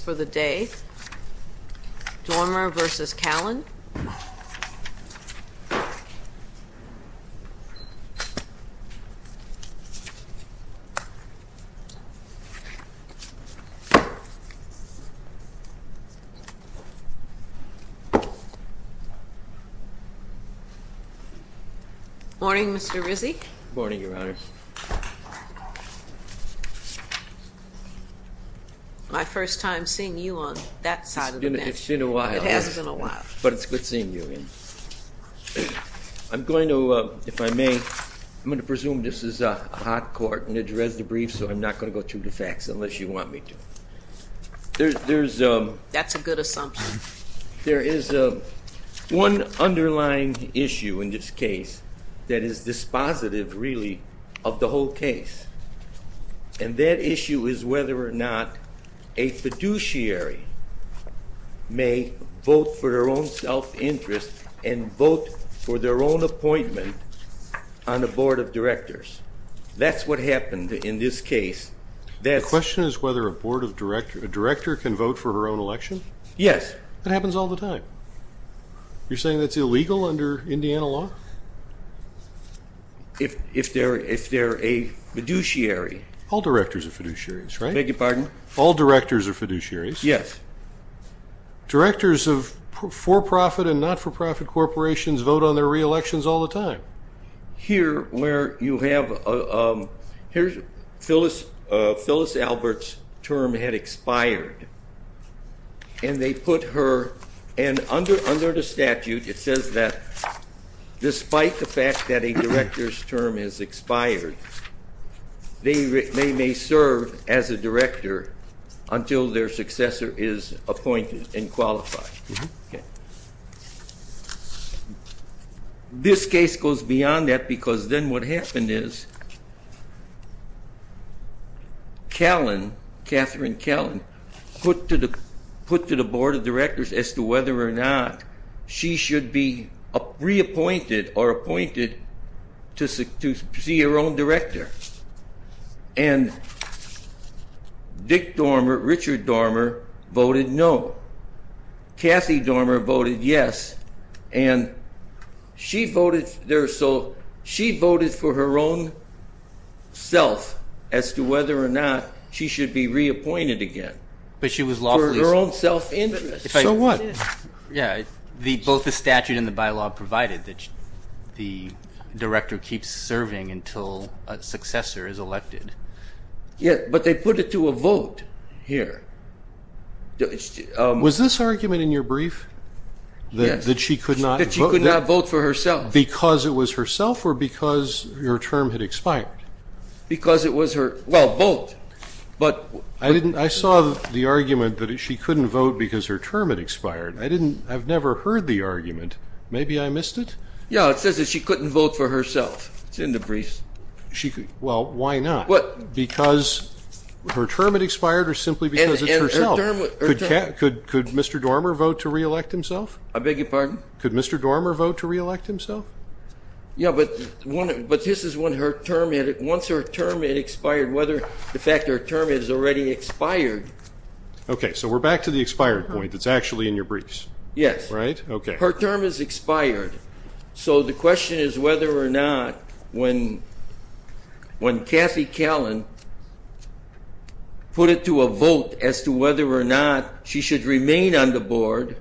for the day. Doermer versus Callen. Morning, Mr Rizzi. Morning, Your Honor. My first time seeing you on that side of the bench. It's been a while. It has been a while. But it's good seeing you again. I'm going to, if I may, I'm going to presume this is a hot court and a jurez debrief so I'm not going to go through the facts unless you want me to. That's a good assumption. There is one underlying issue in this case that is dispositive, really, of the whole case. And that issue is whether or not a fiduciary may vote for their own self-interest and vote for their own appointment on the board of directors. That's what happened in this case. The question is whether a board of directors, a director can vote for her own election? Yes. That happens all the time. You're saying that's illegal under Indiana law? If they're a fiduciary. All directors are fiduciaries, right? Beg your pardon? All directors are fiduciaries. Yes. Directors of for-profit and not-for-profit corporations vote on their re-elections all the time. Here, where you have, here's Phyllis Albert's term had expired, and they put her, and under the statute it says that despite the fact that a director's term has expired, they may serve as a director until their successor is appointed and qualified. Okay. This case goes beyond that because then what happened is Callan, Catherine Callan, put to the board of directors as to whether or not she should be reappointed or appointed to see her own director. And Dick Dormer, Richard Dormer voted no. Kathy Dormer voted yes. And she voted, so she voted for her own self as to whether or not she should be reappointed again. But she was lawfully sworn. For her own self-interest. So what? Yeah, both the statute and the bylaw provided that the director keeps serving until a successor is elected. Yeah, but they put it to a vote here. Was this argument in your brief? Yes. That she could not vote? That she could not vote for herself. Because it was herself or because her term had expired? Because it was her, well, both. I saw the argument that she couldn't vote because her term had expired. I've never heard the argument. Maybe I missed it? Yeah, it says that she couldn't vote for herself. It's in the briefs. Well, why not? Because her term had expired or simply because it's herself? Could Mr. Dormer vote to reelect himself? I beg your pardon? Could Mr. Dormer vote to reelect himself? Yeah, but this is when her term had expired. In fact, her term has already expired. Okay, so we're back to the expired point that's actually in your briefs. Yes. Right? Okay. Her term has expired. So the question is whether or not when Kathy Callan put it to a vote as to whether or not she should remain on the board,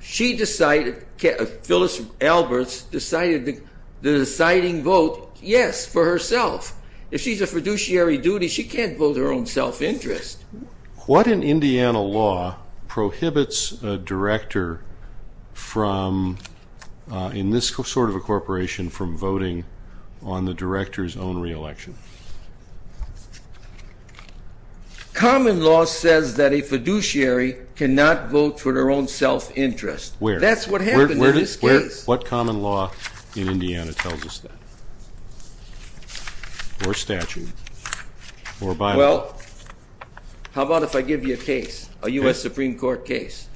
she decided, Phyllis Alberts decided the deciding vote, yes, for herself. If she's a fiduciary duty, she can't vote her own self-interest. What in Indiana law prohibits a director from, in this sort of a corporation, from voting on the director's own re-election? Common law says that a fiduciary cannot vote for their own self-interest. Where? That's what happened in this case. What common law in Indiana tells us that? Or statute? Or Bible? Well, how about if I give you a case, a U.S. Supreme Court case?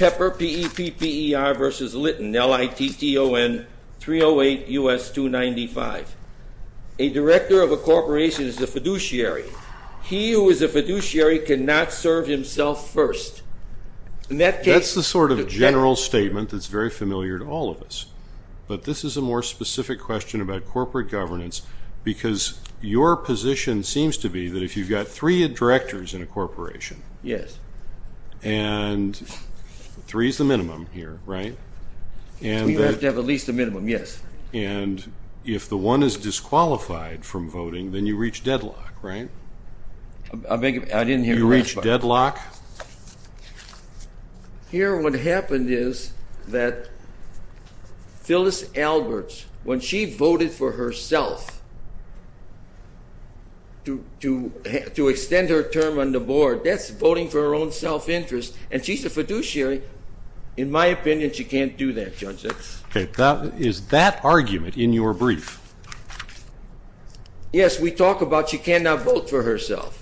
Pepper, P-E-P-P-E-R versus Litton, L-I-T-T-O-N 308 U.S. 295. A director of a corporation is a fiduciary. He who is a fiduciary cannot serve himself first. That's the sort of general statement that's very familiar to all of us. But this is a more specific question about corporate governance because your position seems to be that if you've got three directors in a corporation, and three is the minimum here, right? You have to have at least a minimum, yes. And if the one is disqualified from voting, then you reach deadlock, right? I didn't hear the last part. You reach deadlock. Here what happened is that Phyllis Alberts, when she voted for herself to extend her term on the board, that's voting for her own self-interest. And she's a fiduciary. In my opinion, she can't do that, Judge. Okay. Is that argument in your brief? Yes. We talk about she cannot vote for herself.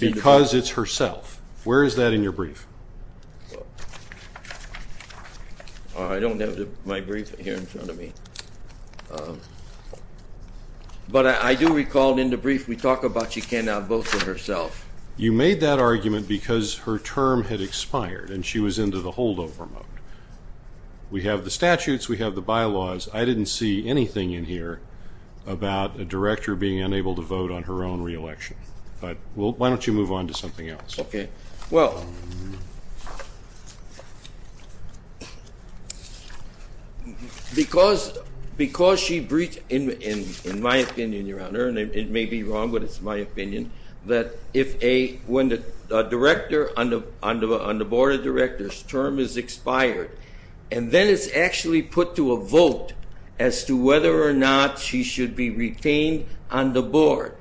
Because it's herself. Where is that in your brief? I don't have my brief here in front of me. But I do recall in the brief we talk about she cannot vote for herself. You made that argument because her term had expired and she was into the holdover mode. We have the statutes. We have the bylaws. I didn't see anything in here about a director being unable to vote on her own reelection. But why don't you move on to something else? Okay. Well, because she breached, in my opinion, Your Honor, and it may be wrong, but it's my opinion, that when a director on the board of directors' term is expired, and then it's actually put to a vote as to whether or not she should be retained on the board,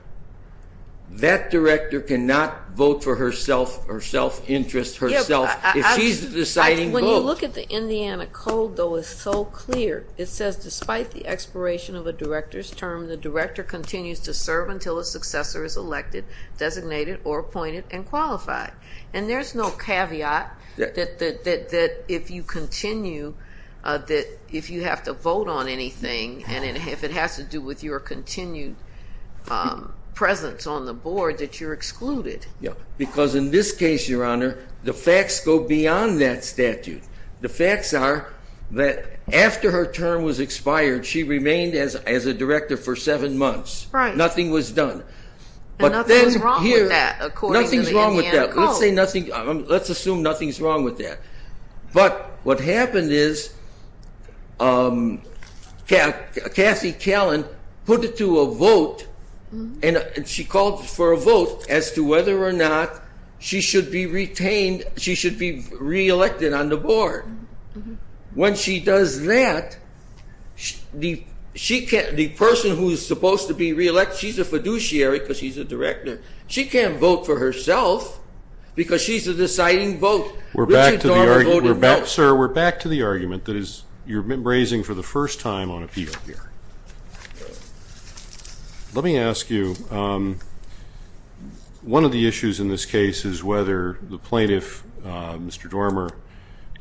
that director cannot vote for herself or self-interest herself if she's the deciding vote. When you look at the Indiana Code, though, it's so clear. It says, despite the expiration of a director's term, the director continues to serve until a successor is elected, designated, or appointed and qualified. And there's no caveat that if you continue, that if you have to vote on anything, and if it has to do with your continued presence on the board, that you're excluded. Because in this case, Your Honor, the facts go beyond that statute. The facts are that after her term was expired, she remained as a director for seven months. Right. Nothing was done. And nothing's wrong with that, according to the Indiana Code. Nothing's wrong with that. Let's assume nothing's wrong with that. But what happened is Kathy Callan put it to a vote, and she called for a vote as to whether or not she should be retained, she should be re-elected on the board. When she does that, the person who's supposed to be re-elected, she's a fiduciary because she's a director. She can't vote for herself because she's the deciding vote. Richard Dorff voted no. Sir, we're back to the argument that you're raising for the first time on appeal here. Let me ask you, one of the issues in this case is whether the plaintiff, Mr. Dormer,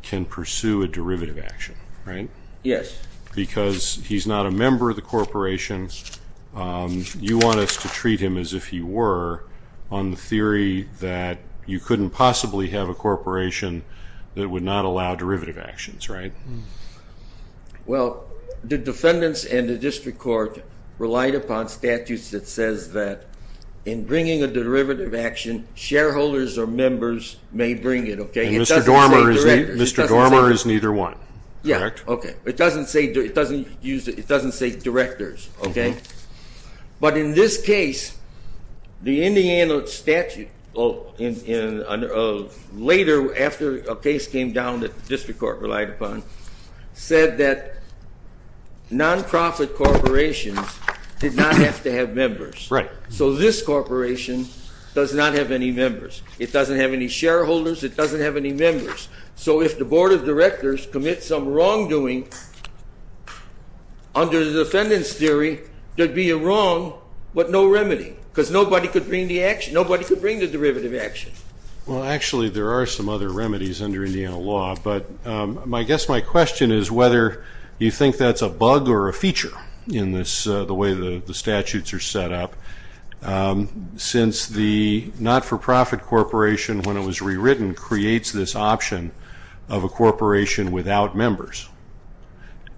can pursue a derivative action, right? Yes. Because he's not a member of the corporation, you want us to treat him as if he were, on the theory that you couldn't possibly have a corporation that would not allow derivative actions, right? Well, the defendants and the district court relied upon statutes that says that in bringing a derivative action, shareholders or members may bring it, okay? And Mr. Dormer is neither one, correct? Yeah, okay. It doesn't say directors, okay? But in this case, the Indiana statute, later after a case came down that the district court relied upon, said that non-profit corporations did not have to have members. Right. So this corporation does not have any members. It doesn't have any shareholders, it doesn't have any members. So if the board of directors commits some wrongdoing under the defendant's theory, there'd be a wrong but no remedy because nobody could bring the derivative action. Well, actually, there are some other remedies under Indiana law, but I guess my question is whether you think that's a bug or a feature in the way the statutes are set up. Since the not-for-profit corporation, when it was rewritten, creates this option of a corporation without members,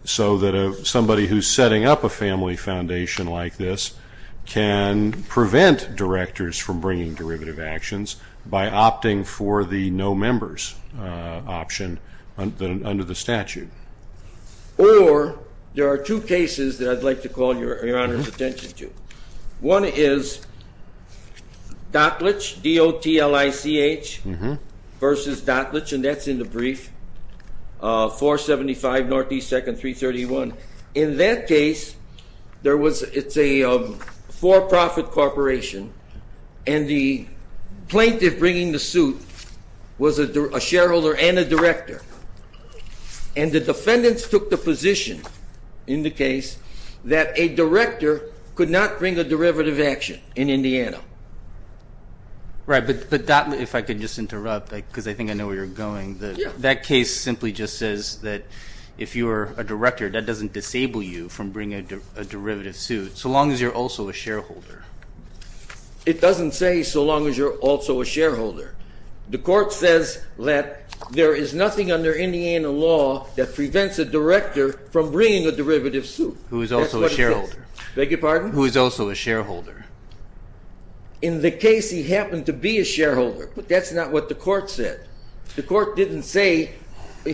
so that somebody who's setting up a family foundation like this can prevent directors from bringing derivative actions by opting for the no members option under the statute. Or there are two cases that I'd like to call Your Honor's attention to. One is Dottlich, D-O-T-L-I-C-H, versus Dottlich, and that's in the brief, 475 Northeast 2nd, 331. In that case, it's a for-profit corporation, and the plaintiff bringing the suit was a shareholder and a director. And the defendants took the position in the case that a director could not bring a derivative action in Indiana. Right, but Dottlich, if I could just interrupt, because I think I know where you're going. That case simply just says that if you're a director, that doesn't disable you from bringing a derivative suit, so long as you're also a shareholder. It doesn't say so long as you're also a shareholder. The court says that there is nothing under Indiana law that prevents a director from bringing a derivative suit. That's what it says. Who is also a shareholder. Beg your pardon? Who is also a shareholder. In the case, he happened to be a shareholder, but that's not what the court said. The court didn't say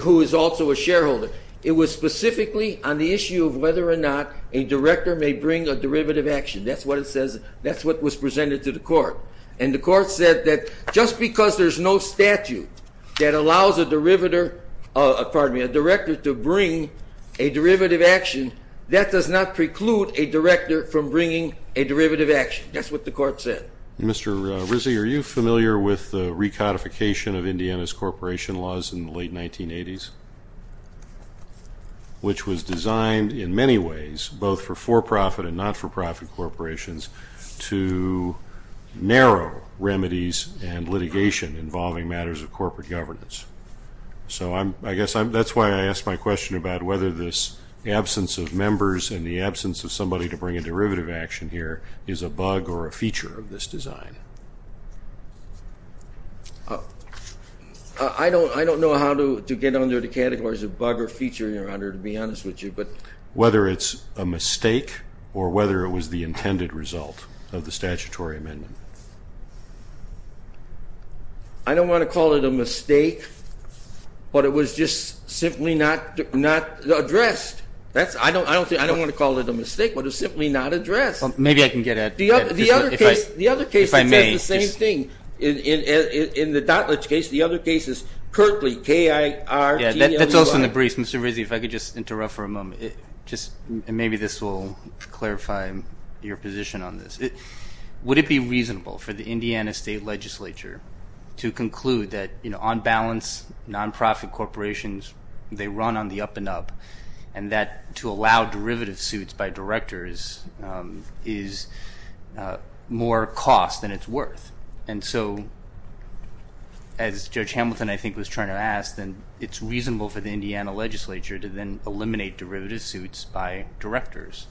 who is also a shareholder. It was specifically on the issue of whether or not a director may bring a derivative action. That's what it says. That's what was presented to the court. And the court said that just because there's no statute that allows a director to bring a derivative action, that does not preclude a director from bringing a derivative action. That's what the court said. Mr. Rizzi, are you familiar with the recodification of Indiana's corporation laws in the late 1980s, which was designed in many ways, both for for-profit and not-for-profit corporations, to narrow remedies and litigation involving matters of corporate governance? So I guess that's why I asked my question about whether this absence of members and the absence of somebody to bring a derivative action here is a bug or a feature of this design. I don't know how to get under the categories of bug or feature, Your Honor, to be honest with you. Whether it's a mistake or whether it was the intended result of the statutory amendment? I don't want to call it a mistake, but it was just simply not addressed. I don't want to call it a mistake, but it was simply not addressed. Well, maybe I can get at it. The other case says the same thing. In the Dottledge case, the other case is Kirtley, K-I-R-T-L-E-Y. That's also in the briefs. Mr. Rizzi, if I could just interrupt for a moment, and maybe this will clarify your position on this. Would it be reasonable for the Indiana State Legislature to conclude that, on balance, non-profit corporations, they run on the up-and-up, and that to allow derivative suits by directors is more cost than it's worth? And so, as Judge Hamilton, I think, was trying to ask, then it's reasonable for the Indiana Legislature to then eliminate derivative suits by directors.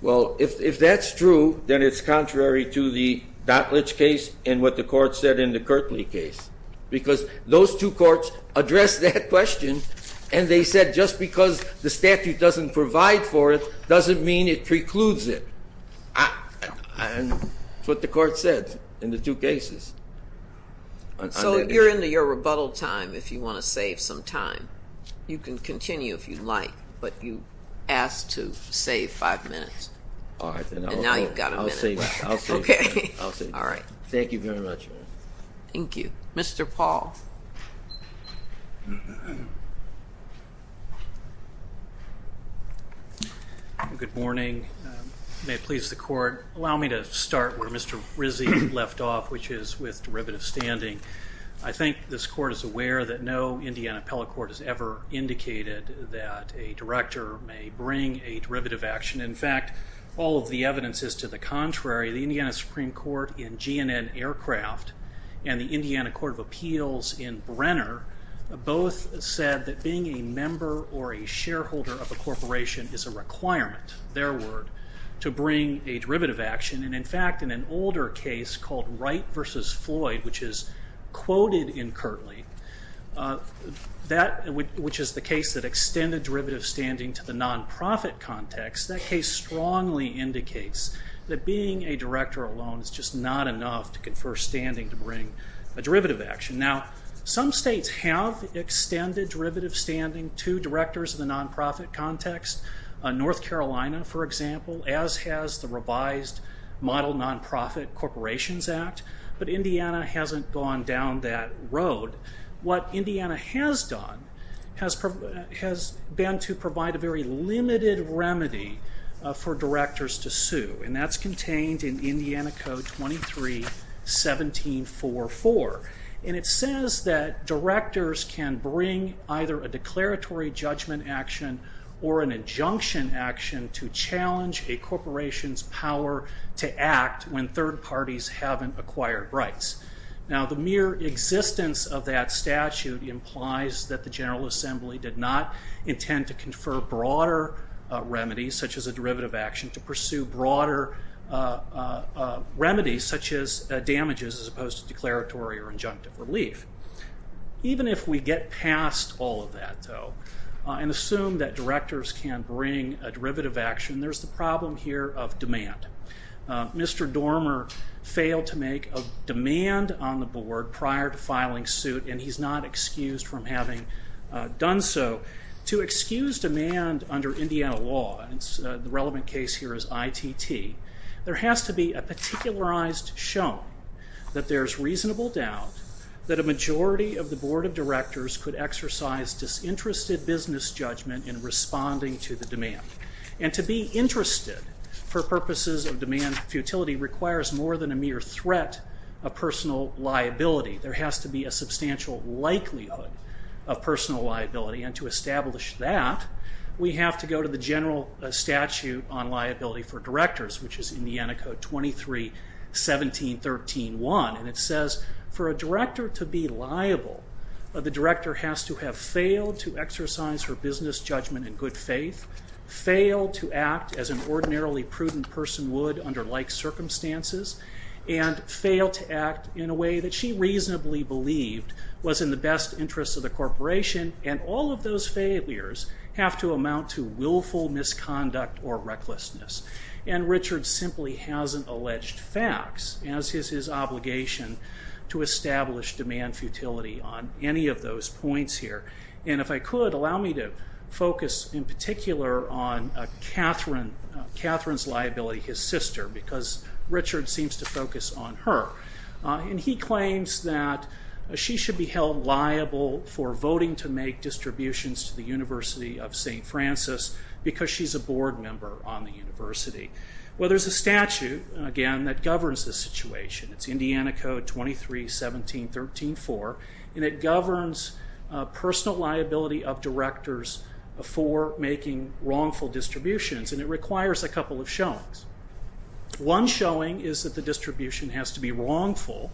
Well, if that's true, then it's contrary to the Dottledge case and what the Court said in the Kirtley case, because those two courts addressed that question, and they said just because the statute doesn't provide for it doesn't mean it precludes it. That's what the Court said in the two cases. So you're into your rebuttal time if you want to save some time. You can continue if you'd like, but you asked to save five minutes. All right, then I'll go. And now you've got a minute. I'll save five minutes. Okay. All right. Thank you very much. Thank you. Mr. Paul. Good morning. May it please the Court, allow me to start where Mr. Rizzi left off, which is with derivative standing. I think this Court is aware that no Indiana appellate court has ever indicated that a director may bring a derivative action. In fact, all of the evidence is to the contrary. The Indiana Supreme Court in GNN Aircraft and the Indiana Court of Appeals in Brenner both said that being a member or a shareholder of a corporation is a requirement, their word, to bring a derivative action. And in fact, in an older case called Wright v. Floyd, which is quoted in Kirtley, which is the case that extended derivative standing to the nonprofit context, that case strongly indicates that being a director alone is just not enough to confer standing to bring a derivative action. Now, some states have extended derivative standing to directors in the nonprofit context. North Carolina, for example, as has the revised Model Nonprofit Corporations Act, but Indiana hasn't gone down that road. What Indiana has done has been to provide a very limited remedy for directors to sue, and that's contained in Indiana Code 23-1744. And it says that directors can bring either a declaratory judgment action or an injunction action to challenge a corporation's power to act when third parties haven't acquired rights. Now, the mere existence of that statute implies that the General Assembly did not intend to confer broader remedies, such as a derivative action, to pursue broader remedies, such as damages, as opposed to declaratory or injunctive relief. Even if we get past all of that, though, and assume that directors can bring a derivative action, there's the problem here of demand. Mr. Dormer failed to make a demand on the board prior to filing suit, and he's not excused from having done so. To excuse demand under Indiana law, and the relevant case here is ITT, there has to be a particularized shown that there's reasonable doubt that a majority of the board of directors could exercise disinterested business judgment in responding to the demand. And to be interested for purposes of demand futility requires more than a mere threat of personal liability. There has to be a substantial likelihood of personal liability, and to establish that, we have to go to the General Statute on Liability for Directors, which is Indiana Code 23-17-13-1. And it says, for a director to be liable, the director has to have failed to exercise her business judgment in good faith, failed to act as an ordinarily prudent person would under like circumstances, and failed to act in a way that she reasonably believed was in the best interest of the corporation, and all of those failures have to amount to willful misconduct or recklessness. And Richard simply hasn't alleged facts, as is his obligation to establish demand futility on any of those points here. And if I could, allow me to focus in particular on Catherine's liability, his sister, because Richard seems to focus on her. And he claims that she should be held liable for voting to make distributions to the University of St. Francis, because she's a board member on the university. Well, there's a statute, again, that governs this situation. It's Indiana Code 23-17-13-4, and it governs personal liability of directors for making wrongful distributions, and it requires a couple of showings. One showing is that the distribution has to be wrongful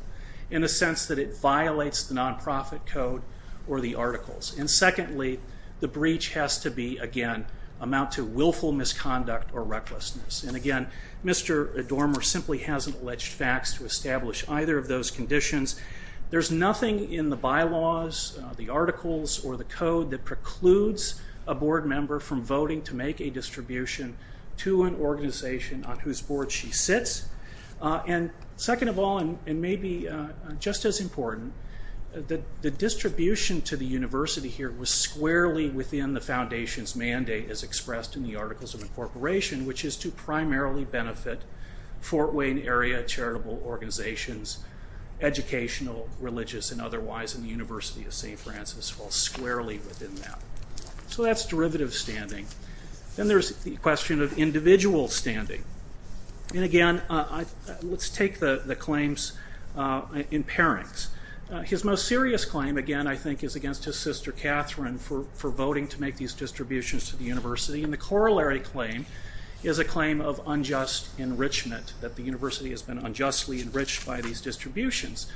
in a sense that it violates the nonprofit code or the articles. And secondly, the breach has to be, again, amount to willful misconduct or recklessness. And again, Mr. Adormer simply hasn't alleged facts to establish either of those conditions. There's nothing in the bylaws, the articles, or the code that precludes a board member from voting to make a distribution to an organization on whose board she sits. And second of all, and maybe just as important, the distribution to the university here was squarely within the foundation's mandate, as expressed in the Articles of Incorporation, which is to primarily benefit Fort Wayne area charitable organizations, educational, religious, and otherwise, and the University of St. Francis falls squarely within that. So that's derivative standing. Then there's the question of individual standing. And again, let's take the claims in pairings. His most serious claim, again, I think is against his sister Catherine for voting to make these distributions to the university, and the corollary claim is a claim of unjust enrichment, that the university has been unjustly enriched by these distributions.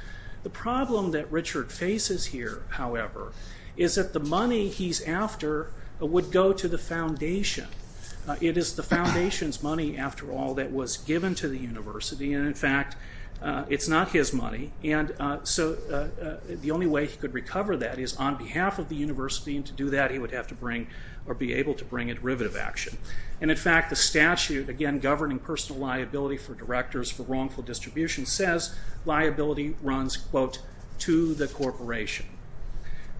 The problem that Richard faces here, however, is that the money he's after would go to the foundation. It is the foundation's money, after all, that was given to the university, and in fact, it's not his money. And so the only way he could recover that is on behalf of the university, and to do that he would have to bring, or be able to bring, a derivative action. And in fact, the statute, again, governing personal liability for directors for wrongful distribution, says liability runs, quote, to the corporation.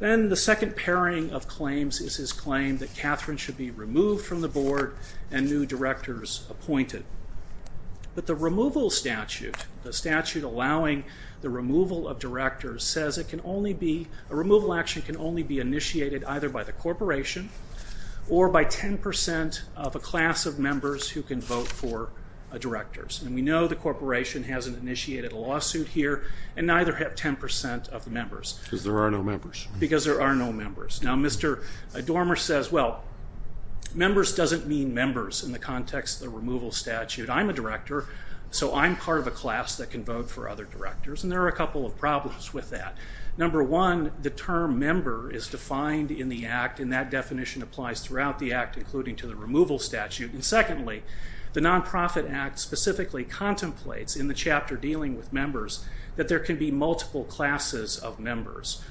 Then the second pairing of claims is his claim that Catherine should be removed from the board and new directors appointed. But the removal statute, the statute allowing the removal of directors, says it can only be, a removal action can only be initiated either by the corporation or by 10% of a class of members who can vote for directors. And we know the corporation hasn't initiated a lawsuit here, and neither have 10% of the members. Because there are no members. Because there are no members. Now, Mr. Dormer says, well, members doesn't mean members in the context of the removal statute. I'm a director, so I'm part of a class that can vote for other directors, and there are a couple of problems with that. Number one, the term member is defined in the Act, and that definition applies throughout the Act, including to the removal statute. And secondly, the Nonprofit Act specifically contemplates, in the chapter dealing with members, that there can be multiple classes of members.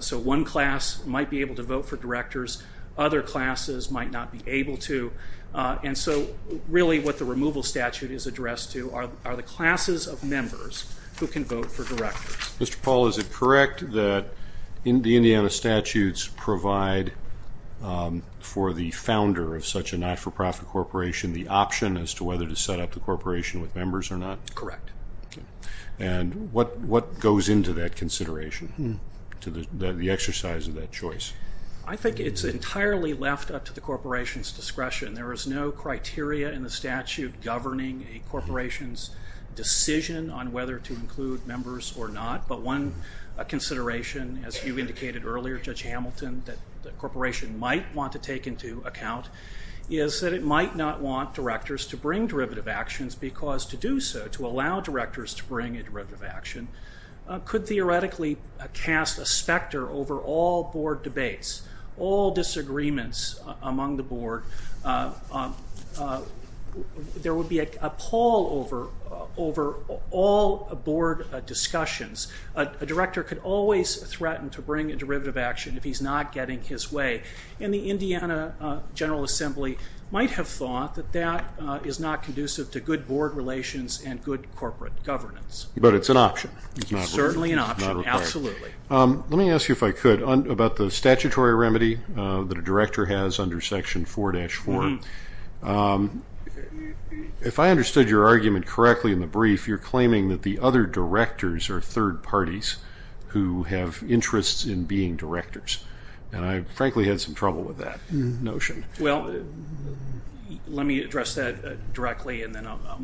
So one class might be able to vote for directors. Other classes might not be able to. And so, really, what the removal statute is addressed to are the classes of members who can vote for directors. Mr. Paul, is it correct that the Indiana statutes provide, for the founder of such a not-for-profit corporation, the option as to whether to set up the corporation with members or not? Correct. And what goes into that consideration, to the exercise of that choice? I think it's entirely left up to the corporation's discretion. There is no criteria in the statute governing a corporation's decision on whether to include members or not. But one consideration, as you indicated earlier, Judge Hamilton, that the corporation might want to take into account, is that it might not want directors to bring derivative actions, because to do so, to allow directors to bring a derivative action, could theoretically cast a specter over all board debates, all disagreements among the board. There would be a pall over all board discussions. A director could always threaten to bring a derivative action if he's not getting his way. And the Indiana General Assembly might have thought that that is not conducive to good board relations and good corporate governance. But it's an option. It's certainly an option, absolutely. Let me ask you, if I could, about the statutory remedy that a director has under Section 4-4. If I understood your argument correctly in the brief, you're claiming that the other directors are third parties who have interests in being directors. And I, frankly, had some trouble with that notion. Well, let me address that directly, and then I'll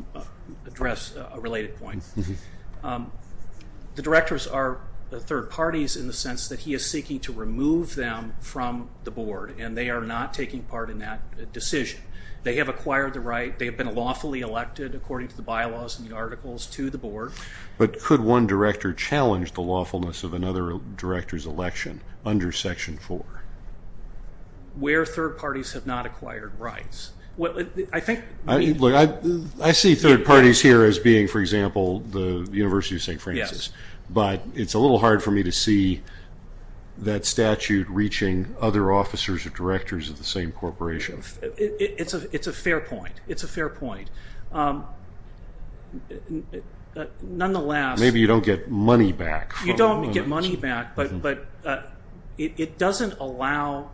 address a related point. The directors are third parties in the sense that he is seeking to remove them from the board, and they are not taking part in that decision. They have acquired the right. They have been lawfully elected, according to the bylaws and the articles, to the board. But could one director challenge the lawfulness of another director's election under Section 4? Where third parties have not acquired rights. I see third parties here as being, for example, the University of St. Francis. But it's a little hard for me to see that statute reaching other officers or directors of the same corporation. It's a fair point. It's a fair point. Nonetheless. Maybe you don't get money back. You don't get money back, but it doesn't allow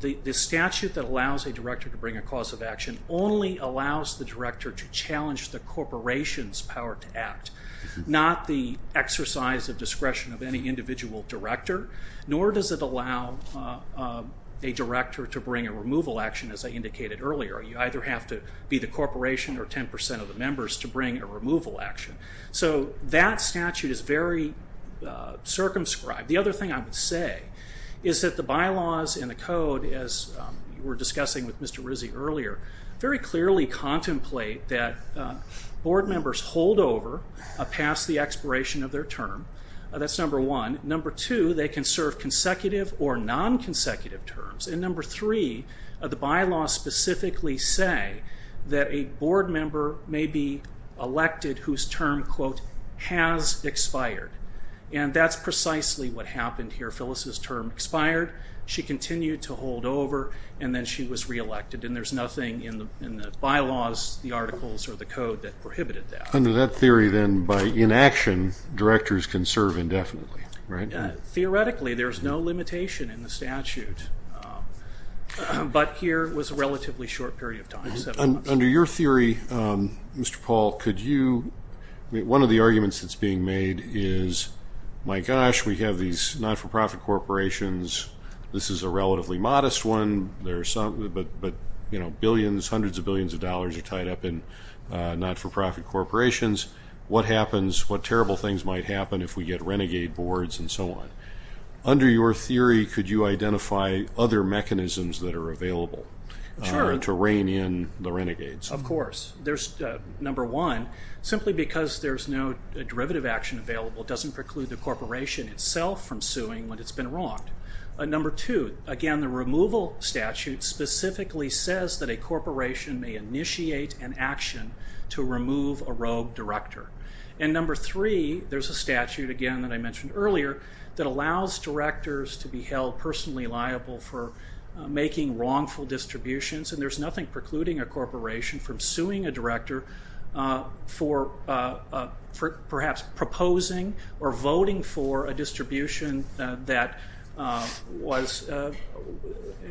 the statute that allows a director to bring a cause of action only allows the director to challenge the corporation's power to act, not the exercise of discretion of any individual director, nor does it allow a director to bring a removal action, as I indicated earlier. You either have to be the corporation or 10 percent of the members to bring a removal action. That statute is very circumscribed. The other thing I would say is that the bylaws and the code, as we were discussing with Mr. Rizzi earlier, very clearly contemplate that board members hold over past the expiration of their term. That's number one. Number two, they can serve consecutive or non-consecutive terms. Number three, the bylaws specifically say that a board member may be elected whose term, quote, has expired, and that's precisely what happened here. Phyllis's term expired. She continued to hold over, and then she was reelected, and there's nothing in the bylaws, the articles, or the code that prohibited that. Under that theory, then, by inaction, directors can serve indefinitely, right? Theoretically, there's no limitation in the statute, but here it was a relatively short period of time, seven months. Under your theory, Mr. Paul, could you, one of the arguments that's being made is, my gosh, we have these not-for-profit corporations. This is a relatively modest one, but, you know, billions, hundreds of billions of dollars are tied up in not-for-profit corporations. What happens, what terrible things might happen if we get renegade boards and so on? Under your theory, could you identify other mechanisms that are available to rein in the renegades? Of course. Number one, simply because there's no derivative action available doesn't preclude the corporation itself from suing when it's been wronged. Number two, again, the removal statute specifically says that a corporation may initiate an action to remove a rogue director. And number three, there's a statute, again, that I mentioned earlier, that allows directors to be held personally liable for making wrongful distributions, and there's nothing precluding a corporation from suing a director for perhaps proposing or voting for a distribution in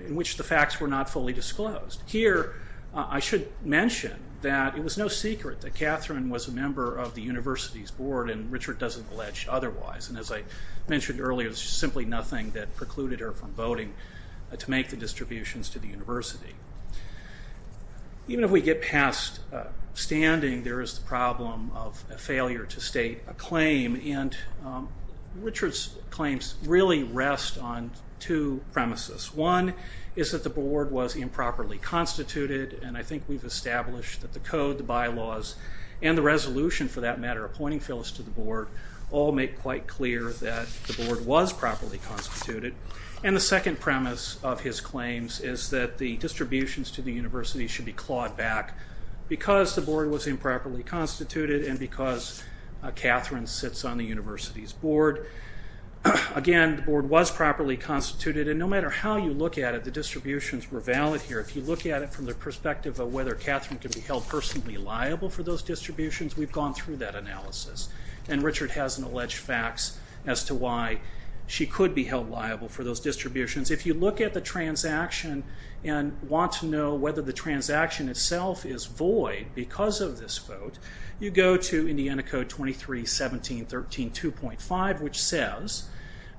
which the facts were not fully disclosed. Here, I should mention that it was no secret that Catherine was a member of the university's board and Richard doesn't allege otherwise. And as I mentioned earlier, there's simply nothing that precluded her from voting to make the distributions to the university. Even if we get past standing, there is the problem of a failure to state a claim, and Richard's claims really rest on two premises. One is that the board was improperly constituted, and I think we've established that the code, the bylaws, and the resolution, for that matter, appointing Phyllis to the board, all make quite clear that the board was properly constituted. And the second premise of his claims is that the distributions to the university should be clawed back because the board was improperly constituted and because Catherine sits on the university's board. Again, the board was properly constituted, and no matter how you look at it, the distributions were valid here. If you look at it from the perspective of whether Catherine could be held personally liable for those distributions, we've gone through that analysis. And Richard has an alleged fax as to why she could be held liable for those distributions. If you look at the transaction and want to know whether the transaction itself is void because of this vote, you go to Indiana Code 23.17.13.2.5, which says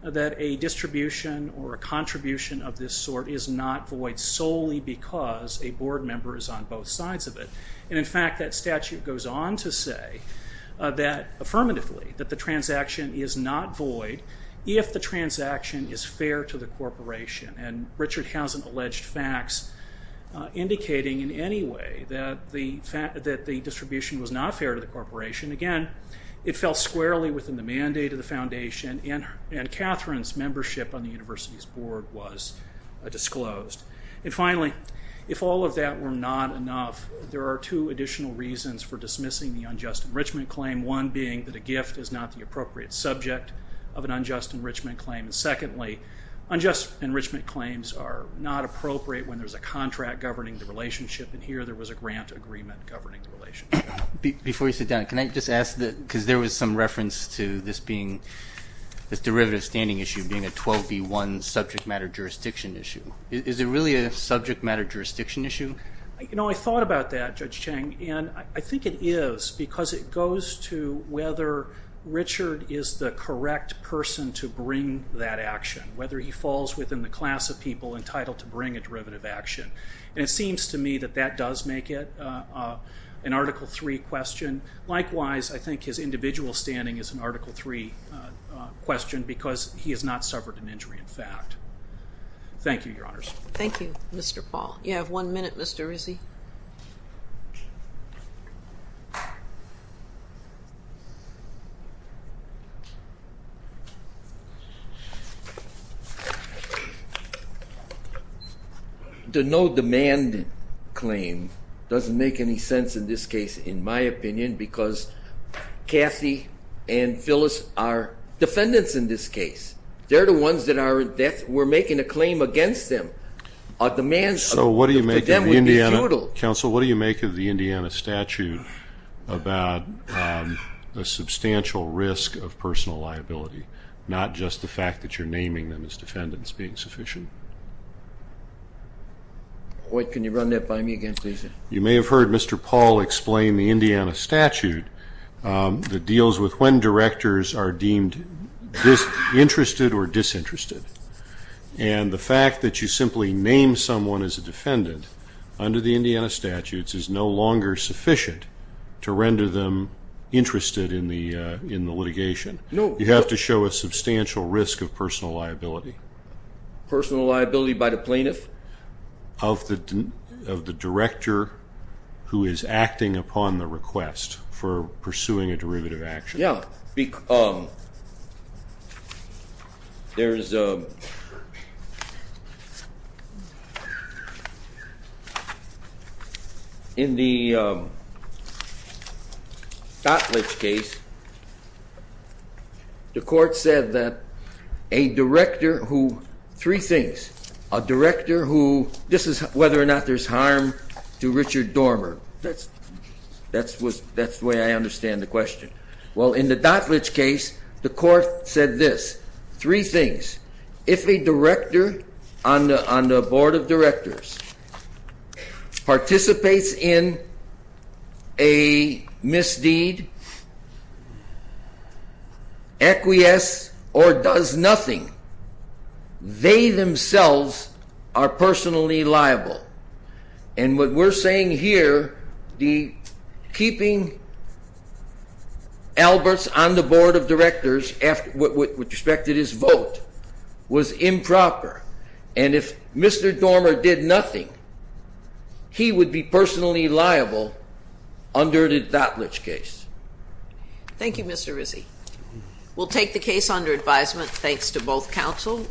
that a distribution or a contribution of this sort is not void solely because a board member is on both sides of it. And in fact, that statute goes on to say that, affirmatively, that the transaction is not void if the transaction is fair to the corporation. And Richard has an alleged fax indicating in any way that the distribution was not fair to the corporation. Again, it fell squarely within the mandate of the foundation, and Catherine's membership on the university's board was disclosed. And finally, if all of that were not enough, there are two additional reasons for dismissing the unjust enrichment claim. One being that a gift is not the appropriate subject of an unjust enrichment claim. And secondly, unjust enrichment claims are not appropriate when there's a contract governing the relationship, and here there was a grant agreement governing the relationship. Before you sit down, can I just ask, because there was some reference to this derivative standing issue being a 12B1 subject matter jurisdiction issue. Is it really a subject matter jurisdiction issue? I thought about that, Judge Chang, and I think it is because it goes to whether Richard is the correct person to bring that action, whether he falls within the class of people entitled to bring a derivative action. And it seems to me that that does make it an Article III question. Likewise, I think his individual standing is an Article III question because he has not suffered an injury, in fact. Thank you, Your Honors. Thank you, Mr. Paul. You have one minute, Mr. Rizzi. The no-demand claim doesn't make any sense in this case, in my opinion, because Kathy and Phyllis are defendants in this case. They're the ones that were making a claim against them. So what do you make of the Indiana statute about the substantial risk of personal liability? Not just the fact that you're naming them as defendants being sufficient. Can you run that by me again, please? You may have heard Mr. Paul explain the Indiana statute that deals with when directors are deemed interested or disinterested, and the fact that you simply name someone as a defendant under the Indiana statutes is no longer sufficient to render them interested in the litigation. You have to show a substantial risk of personal liability. Personal liability by the plaintiff? Of the director who is acting upon the request for pursuing a derivative action. Yeah. There is a... In the Gottlich case, the court said that a director who... Three things. A director who... This is whether or not there's harm to Richard Dormer. That's the way I understand the question. Well, in the Gottlich case, the court said this. Three things. If a director on the board of directors participates in a misdeed, acquiesce, or does nothing, they themselves are personally liable. And what we're saying here, keeping Alberts on the board of directors with respect to his vote was improper. And if Mr. Dormer did nothing, he would be personally liable under the Gottlich case. Thank you, Mr. Rizzi. We'll take the case under advisement, thanks to both counsel.